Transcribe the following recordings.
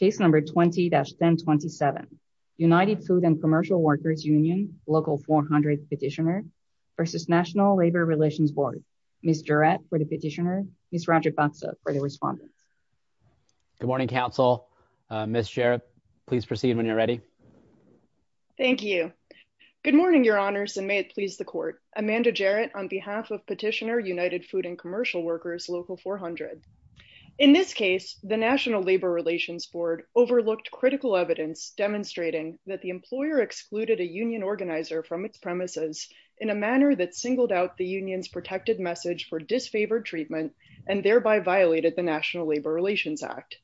20-1027 United Food and Commercial Workers Union Local 400 Petitioner v. National Labor Relations Board Ms. Jarrett for the petitioner, Ms. Roger Foxo for the respondent. Good morning, counsel. Ms. Jarrett, please proceed when you're ready. Thank you. Good morning, your honors, and may it please the court. Amanda Jarrett on behalf of Petitioner United Food and Commercial Workers Local 400. In this case, the National Labor Relations Board overlooked critical evidence demonstrating that the employer excluded a union organizer from its premises in a manner that singled out the union's protected message for disfavored treatment and thereby violated the National Labor Relations Act.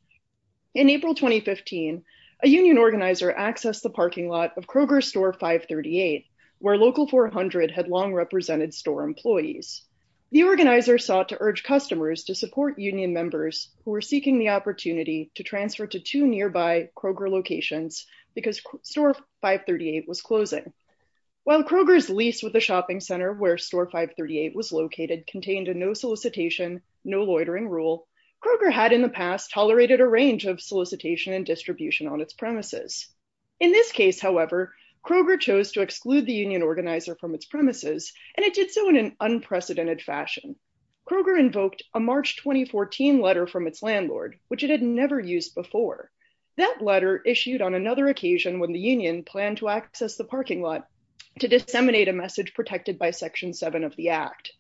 In April 2015, a union organizer accessed the parking lot of Kroger's Store 538, where Local 400 had long represented store employees. The organizer sought to urge customers to support union members who were seeking the opportunity to transfer to two nearby Kroger locations because Store 538 was closing. While Kroger's lease with the shopping center where Store 538 was located contained a no-solicitation, no-loitering rule, Kroger had in the past tolerated a range of solicitation and distribution on its premises. In this case, however, Kroger chose to exclude the union organizer from its premises, and it did so in an unprecedented fashion. Kroger invoked a March 2014 letter from its landlord, which it had never used before. That letter issued on another occasion when the union planned to access the parking lot to disseminate a message protected by Section 7 of the Act.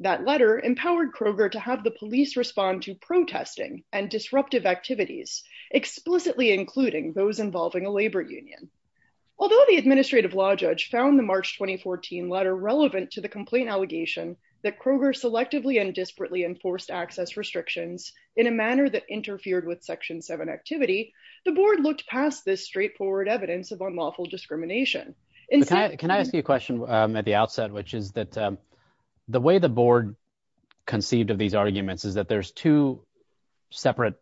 That letter empowered Kroger to have the police respond to protesting and disruptive activities, explicitly including those involving a labor union. Although the administrative law judge found the March 2014 letter relevant to the complaint allegation that Kroger selectively and desperately enforced access restrictions in a manner that interfered with Section 7 activity, the board looked past this straightforward evidence of unlawful discrimination. Can I ask you a question at the outset, which is that the way the board conceived of these arguments is that there's two separate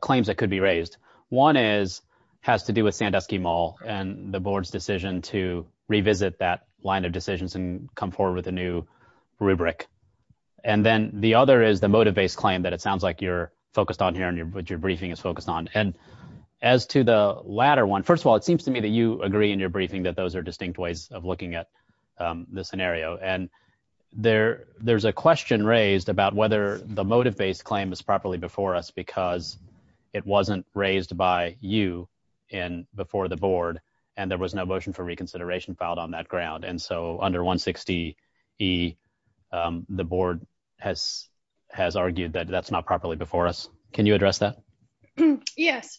claims that could be raised. One has to do with Sandusky Mall and the board's decision to revisit that line of decisions and come forward with a new rubric. And then the other is the motive-based claim that it sounds like you're focused on here and what your briefing is focused on. And as to the latter one, first of all, it seems to me that you agree in your briefing that those are distinct ways of looking at the scenario. And there's a question raised about whether the motive-based claim is properly before us because it wasn't raised by you before the board and there was no motion for reconsideration filed on that ground. And so under 160E, the board has argued that that's not properly before us. Can you address that? Yes.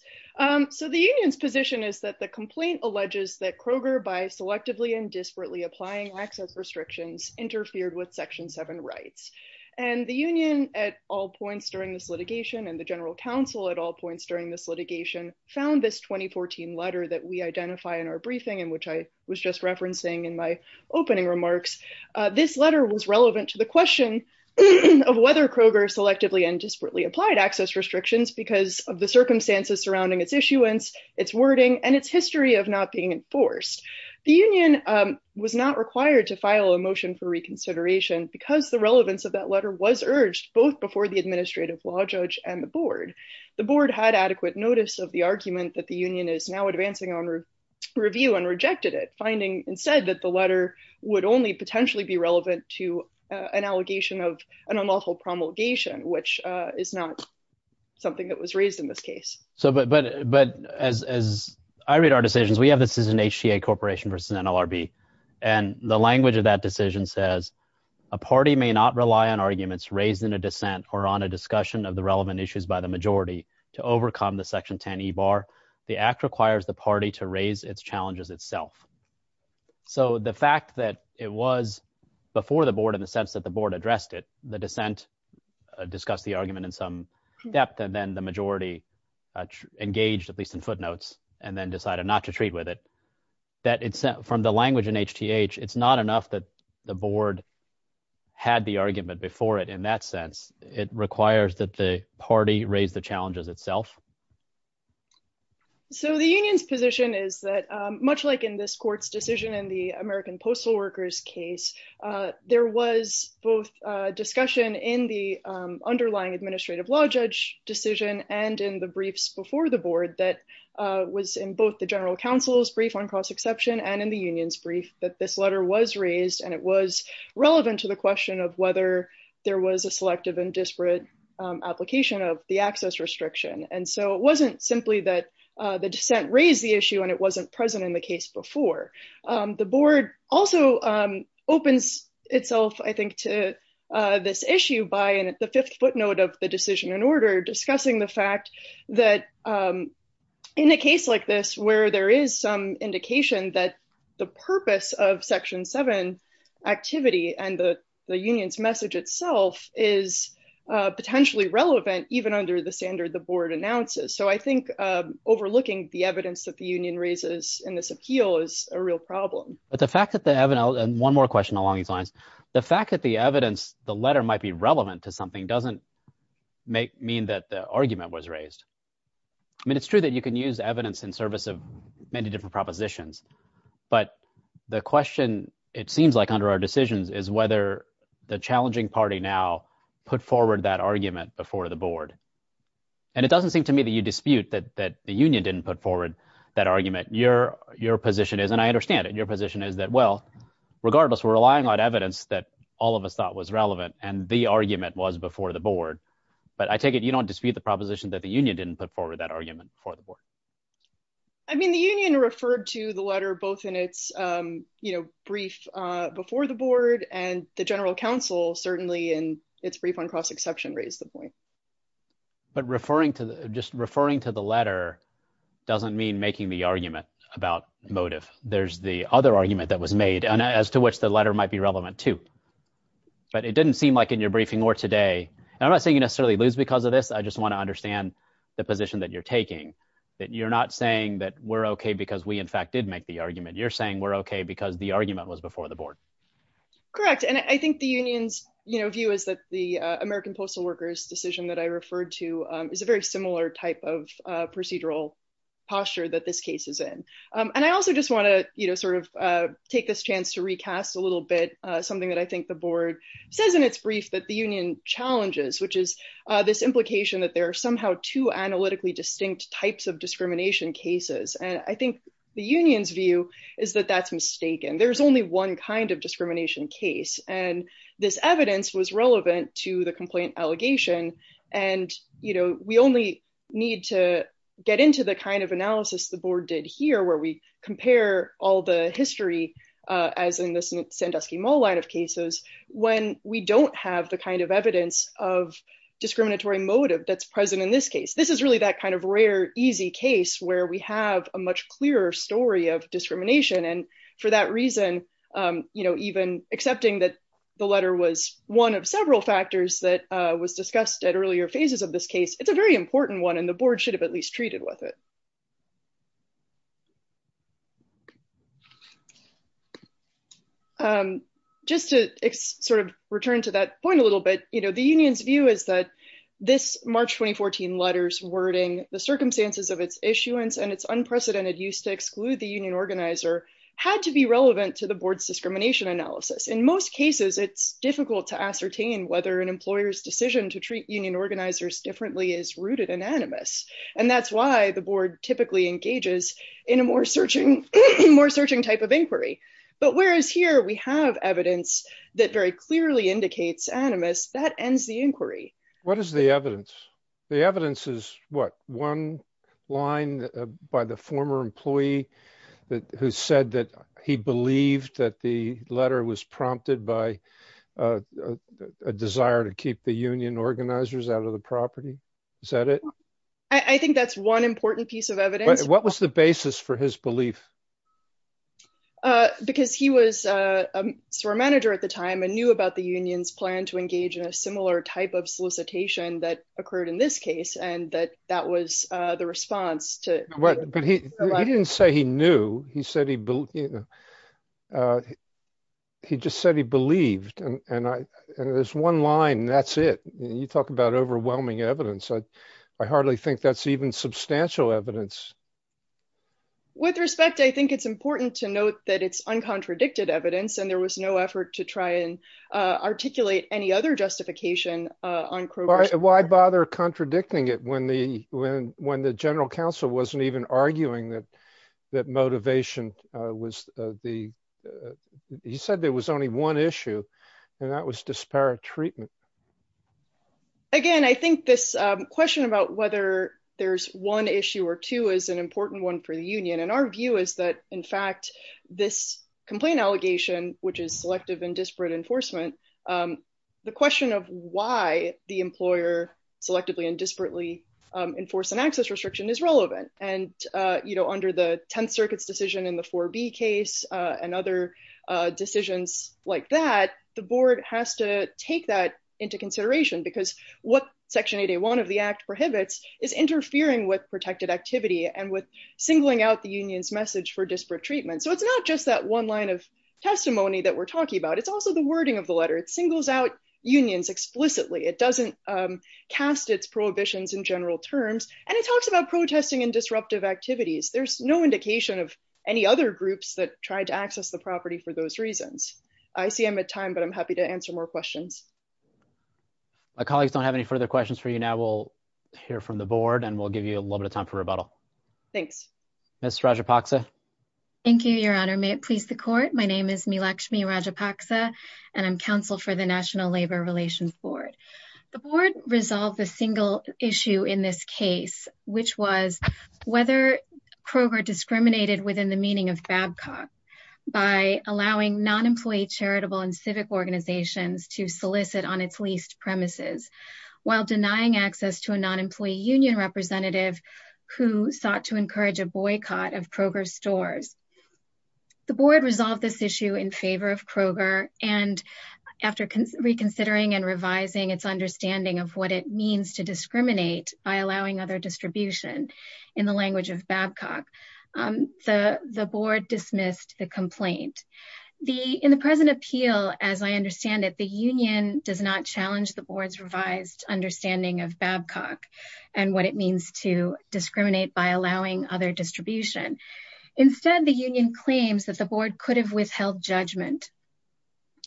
So the union's position is that the complaint alleges that Kroger, by selectively and desperately applying access restrictions, interfered with Section 7 rights. And the union at all points during this litigation and the general counsel at all points during this litigation found this 2014 letter that we identify in our briefing and which I was just referencing in my opening remarks, this letter was relevant to the question of whether Kroger selectively and desperately applied access restrictions because of the circumstances surrounding its issuance, its wording, and its history of not being enforced. The union was not required to file a motion for reconsideration because the relevance of that letter was urged both before the administrative law judge and the board. The board had adequate notice of the argument that the union is now advancing on review and rejected it, finding instead that the letter would only potentially be relevant to an allegation of an unlawful promulgation, which is not something that was raised in this case. So but as I read our decisions, we have this as an HTA corporation versus NLRB, and the language of that decision says, a party may not rely on arguments raised in a dissent or on a discussion of the relevant issues by the majority to overcome the Section 10 e-bar. The act requires the party to raise its challenges itself. So the fact that it was before the board in the sense that the board addressed it, the majority engaged, at least in footnotes, and then decided not to treat with it, that it's from the language in HTH, it's not enough that the board had the argument before it in that sense. It requires that the party raise the challenges itself. So the union's position is that much like in this court's decision in the American Postal Workers case, there was both discussion in the underlying administrative law judge decision and in the briefs before the board that was in both the general counsel's brief on cost exception and in the union's brief that this letter was raised, and it was relevant to the question of whether there was a selective and disparate application of the access restriction. And so it wasn't simply that the dissent raised the issue, and it wasn't present in the case before. The board also opens itself, I think, to this issue by the fifth footnote of the decision in order, discussing the fact that in a case like this where there is some indication that the purpose of Section 7 activity and the union's message itself is potentially relevant even under the standard the board announces. So I think overlooking the evidence that the union raises in this appeal is a real problem. The fact that the evidence, and one more question along these lines, the fact that the evidence, the letter might be relevant to something doesn't mean that the argument was raised. I mean, it's true that you can use evidence in service of many different propositions, but the question, it seems like under our decisions, is whether the challenging party now put forward that argument before the board. And it doesn't seem to me that you dispute that the union didn't put forward that argument. Your position is, and I understand it, your position is that, well, regardless, we're relevant, and the argument was before the board, but I take it you don't dispute the proposition that the union didn't put forward that argument before the board. I mean, the union referred to the letter both in its brief before the board and the general counsel certainly in its brief on cross-exception raised the point. But just referring to the letter doesn't mean making the argument about motive. There's the other argument that was made as to which the letter might be relevant to. But it didn't seem like in your briefing or today, and I'm not saying you necessarily lose because of this. I just want to understand the position that you're taking, that you're not saying that we're OK because we, in fact, did make the argument. You're saying we're OK because the argument was before the board. Correct. And I think the union's view is that the American postal workers decision that I referred to is a very similar type of procedural posture that this case is in. And I also just want to sort of take this chance to recast a little bit something that I think the board says in its brief that the union challenges, which is this implication that there are somehow two analytically distinct types of discrimination cases. And I think the union's view is that that's mistaken. There's only one kind of discrimination case. And this evidence was relevant to the complaint allegation. And, you know, we only need to get into the kind of analysis the board did here, where we compare all the history, as in the Sandusky-Mall line of cases, when we don't have the kind of evidence of discriminatory motive that's present in this case. This is really that kind of rare, easy case where we have a much clearer story of discrimination. And for that reason, you know, even accepting that the letter was one of several factors that was discussed at earlier phases of this case, it's a very important one. And the board should have at least treated with it. Just to sort of return to that point a little bit, you know, the union's view is that this March 2014 letters wording, the circumstances of its issuance and its unprecedented use to exclude the union organizer had to be relevant to the board's discrimination analysis. In most cases, it's difficult to ascertain whether an employer's decision to treat union organizers differently is rooted in animus. And that's why the board typically engages in a more searching type of inquiry. But whereas here we have evidence that very clearly indicates animus, that ends the inquiry. What is the evidence? The evidence is what? One line by the former employee who said that he believed that the letter was prompted by a desire to keep the union organizers out of the property. Is that it? I think that's one important piece of evidence. What was the basis for his belief? Because he was a store manager at the time and knew about the union's plan to engage in a similar type of solicitation that occurred in this case and that that was the response to. But he didn't say he knew. He said he just said he believed and there's one line and that's it. You talk about overwhelming evidence. I hardly think that's even substantial evidence. With respect, I think it's important to note that it's uncontradicted evidence and there was no effort to try and articulate any other justification on why bother contradicting it when the when when the general counsel wasn't even arguing that that motivation was the. He said there was only one issue and that was disparate treatment. Again, I think this question about whether there's one issue or two is an important one for the union, and our view is that, in fact, this complaint allegation, which is selective and disparate enforcement, the question of why the employer selectively and disparately enforced an access restriction is relevant. And, you know, under the 10th Circuit's decision in the 4B case and other decisions like that, the board has to take that into consideration because what Section 8A1 of the Act prohibits is interfering with protected activity and with singling out the union's message for disparate treatment. So it's not just that one line of testimony that we're talking about. It's also the wording of the letter. It singles out unions explicitly. It doesn't cast its prohibitions in general terms. And it talks about protesting and disruptive activities. There's no indication of any other groups that tried to access the property for those reasons. I see I'm at time, but I'm happy to answer more questions. My colleagues don't have any further questions for you now. We'll hear from the board, and we'll give you a little bit of time for rebuttal. Thanks. Ms. Rajapaksa. Thank you, Your Honor. May it please the Court. My name is Meelakshmi Rajapaksa, and I'm counsel for the National Labor Relations Board. The board resolved a single issue in this case, which was whether Kroger discriminated within the meaning of Babcock by allowing non-employee charitable and civic organizations to solicit on its leased premises while denying access to a non-employee union representative who sought to encourage a boycott of Kroger stores. The board resolved this issue in favor of Kroger, and after reconsidering and revising its understanding of what it means to discriminate by allowing other distribution in the language of Babcock, the board dismissed the complaint. In the present appeal, as I understand it, the union does not challenge the board's revised understanding of Babcock and what it means to discriminate by allowing other distribution. Instead, the union claims that the board could have withheld judgment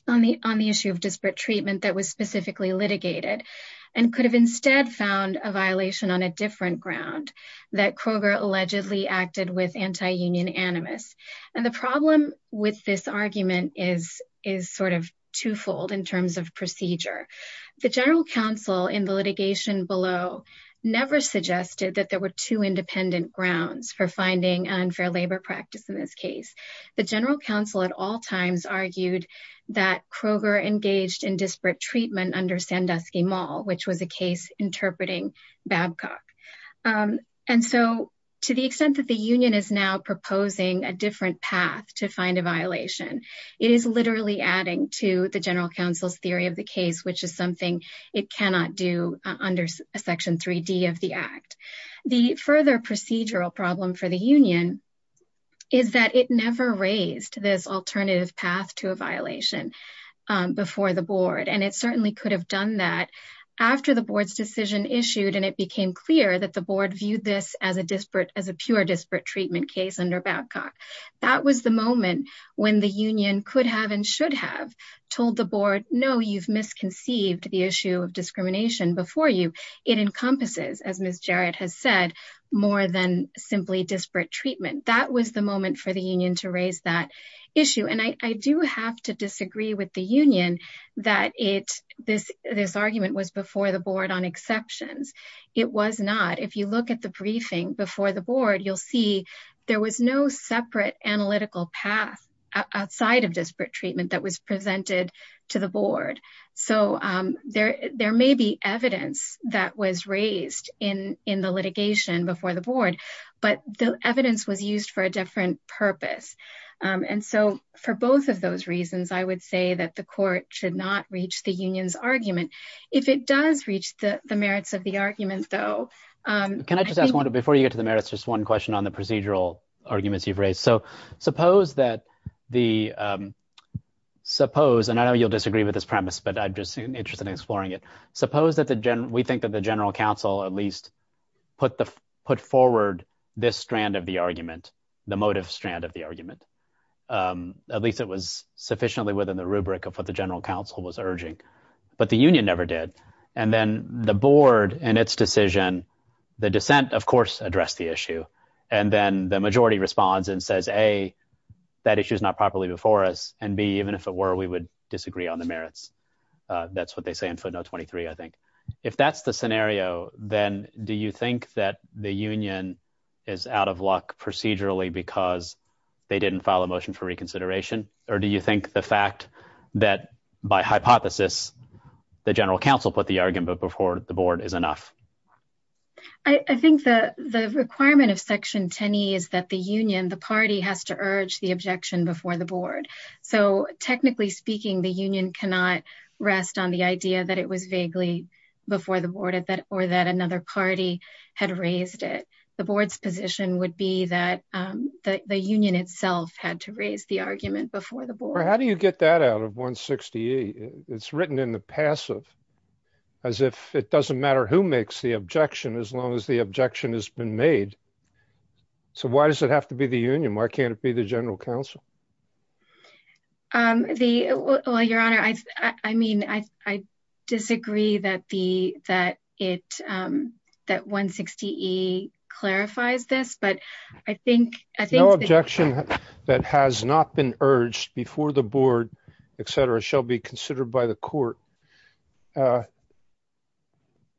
on the issue of disparate treatment that was specifically litigated and could have instead found a violation on a different ground that Kroger allegedly acted with anti-union animus. And the problem with this argument is sort of twofold in terms of procedure. The general counsel in the litigation below never suggested that there were two independent grounds for finding unfair labor practice in this case. The general counsel at all times argued that Kroger engaged in disparate treatment under which was a case interpreting Babcock. And so to the extent that the union is now proposing a different path to find a violation, it is literally adding to the general counsel's theory of the case, which is something it cannot do under section 3D of the act. The further procedural problem for the union is that it never raised this alternative path to a violation before the board. And it certainly could have done that after the board's decision issued and it became clear that the board viewed this as a pure disparate treatment case under Babcock. That was the moment when the union could have and should have told the board, no, you've misconceived the issue of discrimination before you. It encompasses, as Ms. Jarrett has said, more than simply disparate treatment. That was the moment for the union to raise that issue. And I do have to disagree with the union that this argument was before the board on exceptions. It was not. If you look at the briefing before the board, you'll see there was no separate analytical path outside of disparate treatment that was presented to the board. So there may be evidence that was raised in the litigation before the board, but the evidence was used for a different purpose. And so for both of those reasons, I would say that the court should not reach the union's argument. If it does reach the merits of the argument, though. Can I just ask one, before you get to the merits, just one question on the procedural arguments you've raised. So suppose that the, suppose, and I know you'll disagree with this premise, but I'm just interested in exploring it. Suppose that we think that the general counsel at least put forward this strand of the argument, the motive strand of the argument. At least it was sufficiently within the rubric of what the general counsel was urging, but the union never did. And then the board and its decision, the dissent, of course, addressed the issue. And then the majority responds and says, A, that issue is not properly before us. And B, even if it were, we would disagree on the merits. That's what they say in footnote 23, I think. If that's the scenario, then do you think that the union is out of luck procedurally because they didn't file a motion for reconsideration? Or do you think the fact that, by hypothesis, the general counsel put the argument before the board is enough? I think the requirement of section 10E is that the union, the party, has to urge the objection before the board. So technically speaking, the union cannot rest on the idea that it was vaguely before the board or that another party had raised it. The board's position would be that the union itself had to raise the argument before the board. How do you get that out of 160E? It's written in the passive as if it doesn't matter who makes the objection as long as the objection has been made. So why does it have to be the union? Why can't it be the general counsel? Well, Your Honor, I disagree that 160E clarifies this. But I think— No objection that has not been urged before the board, et cetera, shall be considered by the court.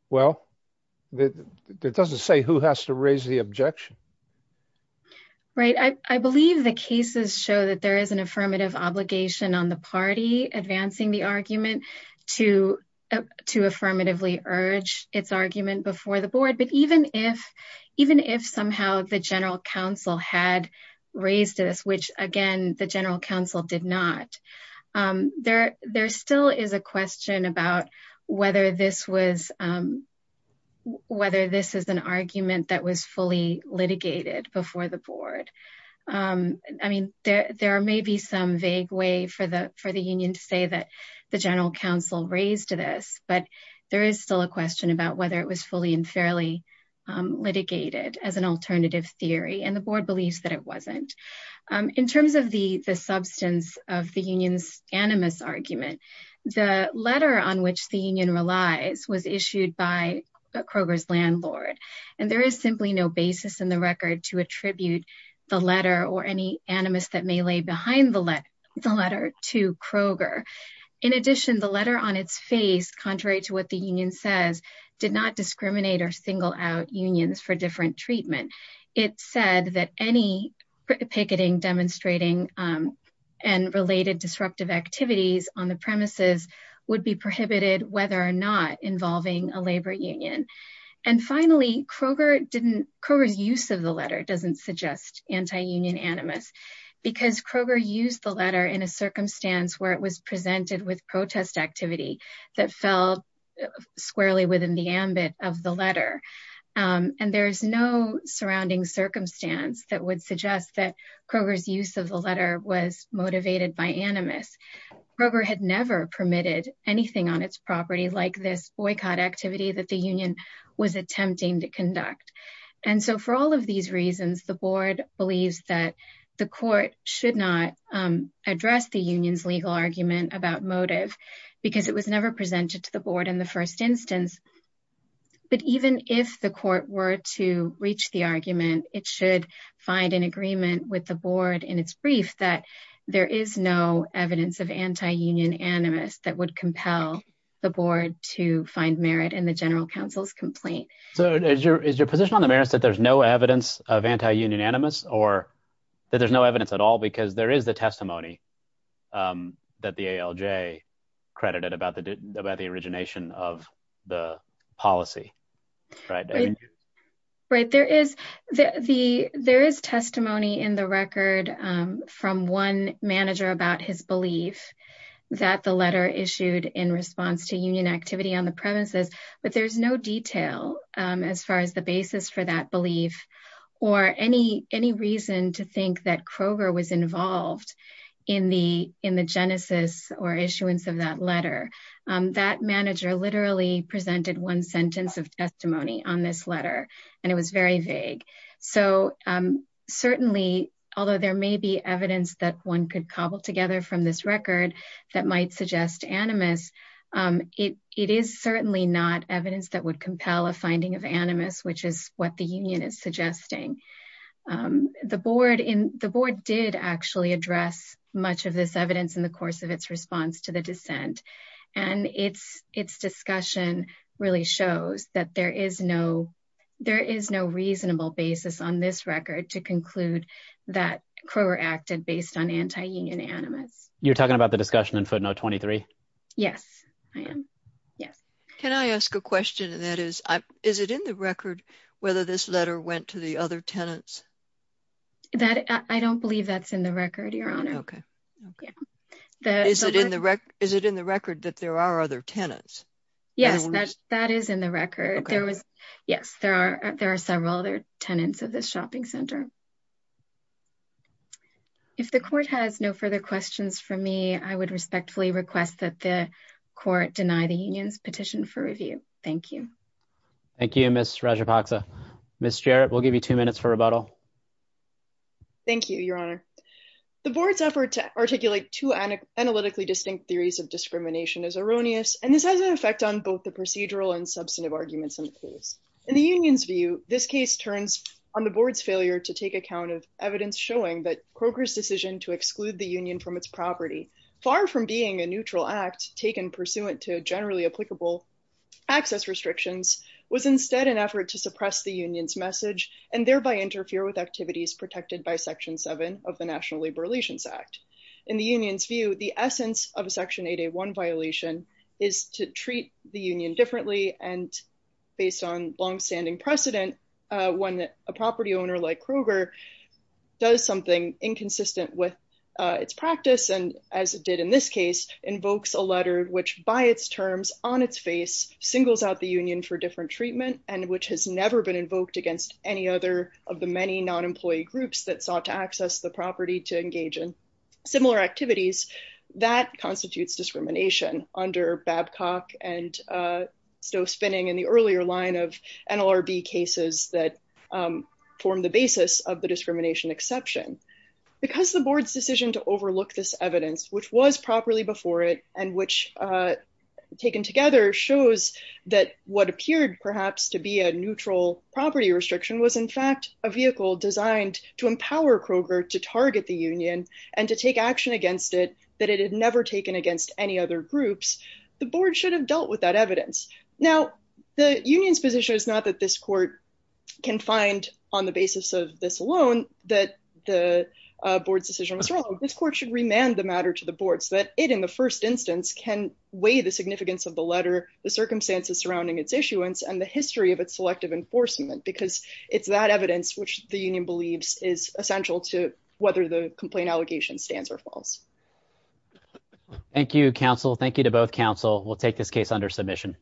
Well, it doesn't say who has to raise the objection. Right. I believe the cases show that there is an affirmative obligation on the party advancing the argument to affirmatively urge its argument before the board. But even if somehow the general counsel had raised this, which, again, the general counsel did not, there still is a question about whether this was—whether this is an argument that was fully litigated before the board. I mean, there may be some vague way for the union to say that the general counsel raised this, but there is still a question about whether it was fully and fairly litigated as an alternative theory. And the board believes that it wasn't. In terms of the substance of the union's animus argument, the letter on which the union relies was issued by Kroger's landlord. And there is simply no basis in the record to attribute the letter or any animus that may lay behind the letter to Kroger. In addition, the letter on its face, contrary to what the union says, did not discriminate or single out unions for different treatment. It said that any picketing, demonstrating, and related disruptive activities on the premises would be prohibited whether or not involving a labor union. And finally, Kroger didn't—Kroger's use of the letter doesn't suggest anti-union animus because Kroger used the letter in a circumstance where it was presented with protest activity that fell squarely within the ambit of the letter. And there is no surrounding circumstance that would suggest that Kroger's use of the letter was motivated by animus. Kroger had never permitted anything on its property like this boycott activity that the was attempting to conduct. And so for all of these reasons, the board believes that the court should not address the union's legal argument about motive because it was never presented to the board in the first instance. But even if the court were to reach the argument, it should find an agreement with the board in its brief that there is no evidence of anti-union animus that would compel the board to find merit in the general counsel's complaint. So is your position on the merits that there's no evidence of anti-union animus or that there's no evidence at all because there is the testimony that the ALJ credited about the origination of the policy, right? Right, there is testimony in the record from one manager about his belief that the letter issued in response to union activity on the premises. But there's no detail as far as the basis for that belief or any reason to think that Kroger was involved in the genesis or issuance of that letter. That manager literally presented one sentence of testimony on this letter and it was very vague. So certainly, although there may be evidence that one could cobble together from this record that might suggest animus, it is certainly not evidence that would compel a finding of animus, which is what the union is suggesting. The board did actually address much of this evidence in the course of its response to the dissent. And its discussion really shows that there is no reasonable basis on this record to conclude that Kroger acted based on anti-union animus. You're talking about the discussion in footnote 23? Yes, I am. Yes. Can I ask a question? That is, is it in the record whether this letter went to the other tenants? That I don't believe that's in the record, Your Honor. Okay. Is it in the record that there are other tenants? Yes, that is in the record. There was, yes, there are. There are several other tenants of this shopping center. If the court has no further questions for me, I would respectfully request that the court deny the union's petition for review. Thank you. Thank you, Ms. Rajapaksa. Ms. Jarrett, we'll give you two minutes for rebuttal. Thank you, Your Honor. The board's effort to articulate two analytically distinct theories of discrimination is erroneous, and this has an effect on both the procedural and substantive arguments in the case. In the union's view, the essence of a Section 8A1 violation is to treat the union differently, and based on longstanding precedent, when a property owner like Kroger does something inconsistent with its practice and, as it did in this case, invokes a letter which, by its terms, on its face, singles out the union for different treatment and which has never been invoked against any other of the many non-employee groups that sought to access the property to engage in similar activities, that constitutes discrimination. Under Babcock and Stove Spinning and the earlier line of NLRB cases that form the basis of the discrimination exception. Because the board's decision to overlook this evidence, which was properly before it, and which, taken together, shows that what appeared, perhaps, to be a neutral property restriction was, in fact, a vehicle designed to empower Kroger to target the union and to take action against it that it had never taken against any other groups, the board should have dealt with that evidence. Now, the union's position is not that this court can find, on the basis of this alone, that the board's decision was wrong. This court should remand the matter to the board so that it, in the first instance, can weigh the significance of the letter, the circumstances surrounding its issuance, and the history of its selective enforcement because it's that evidence which the union stands or falls. Thank you, counsel. Thank you to both counsel. We'll take this case under submission.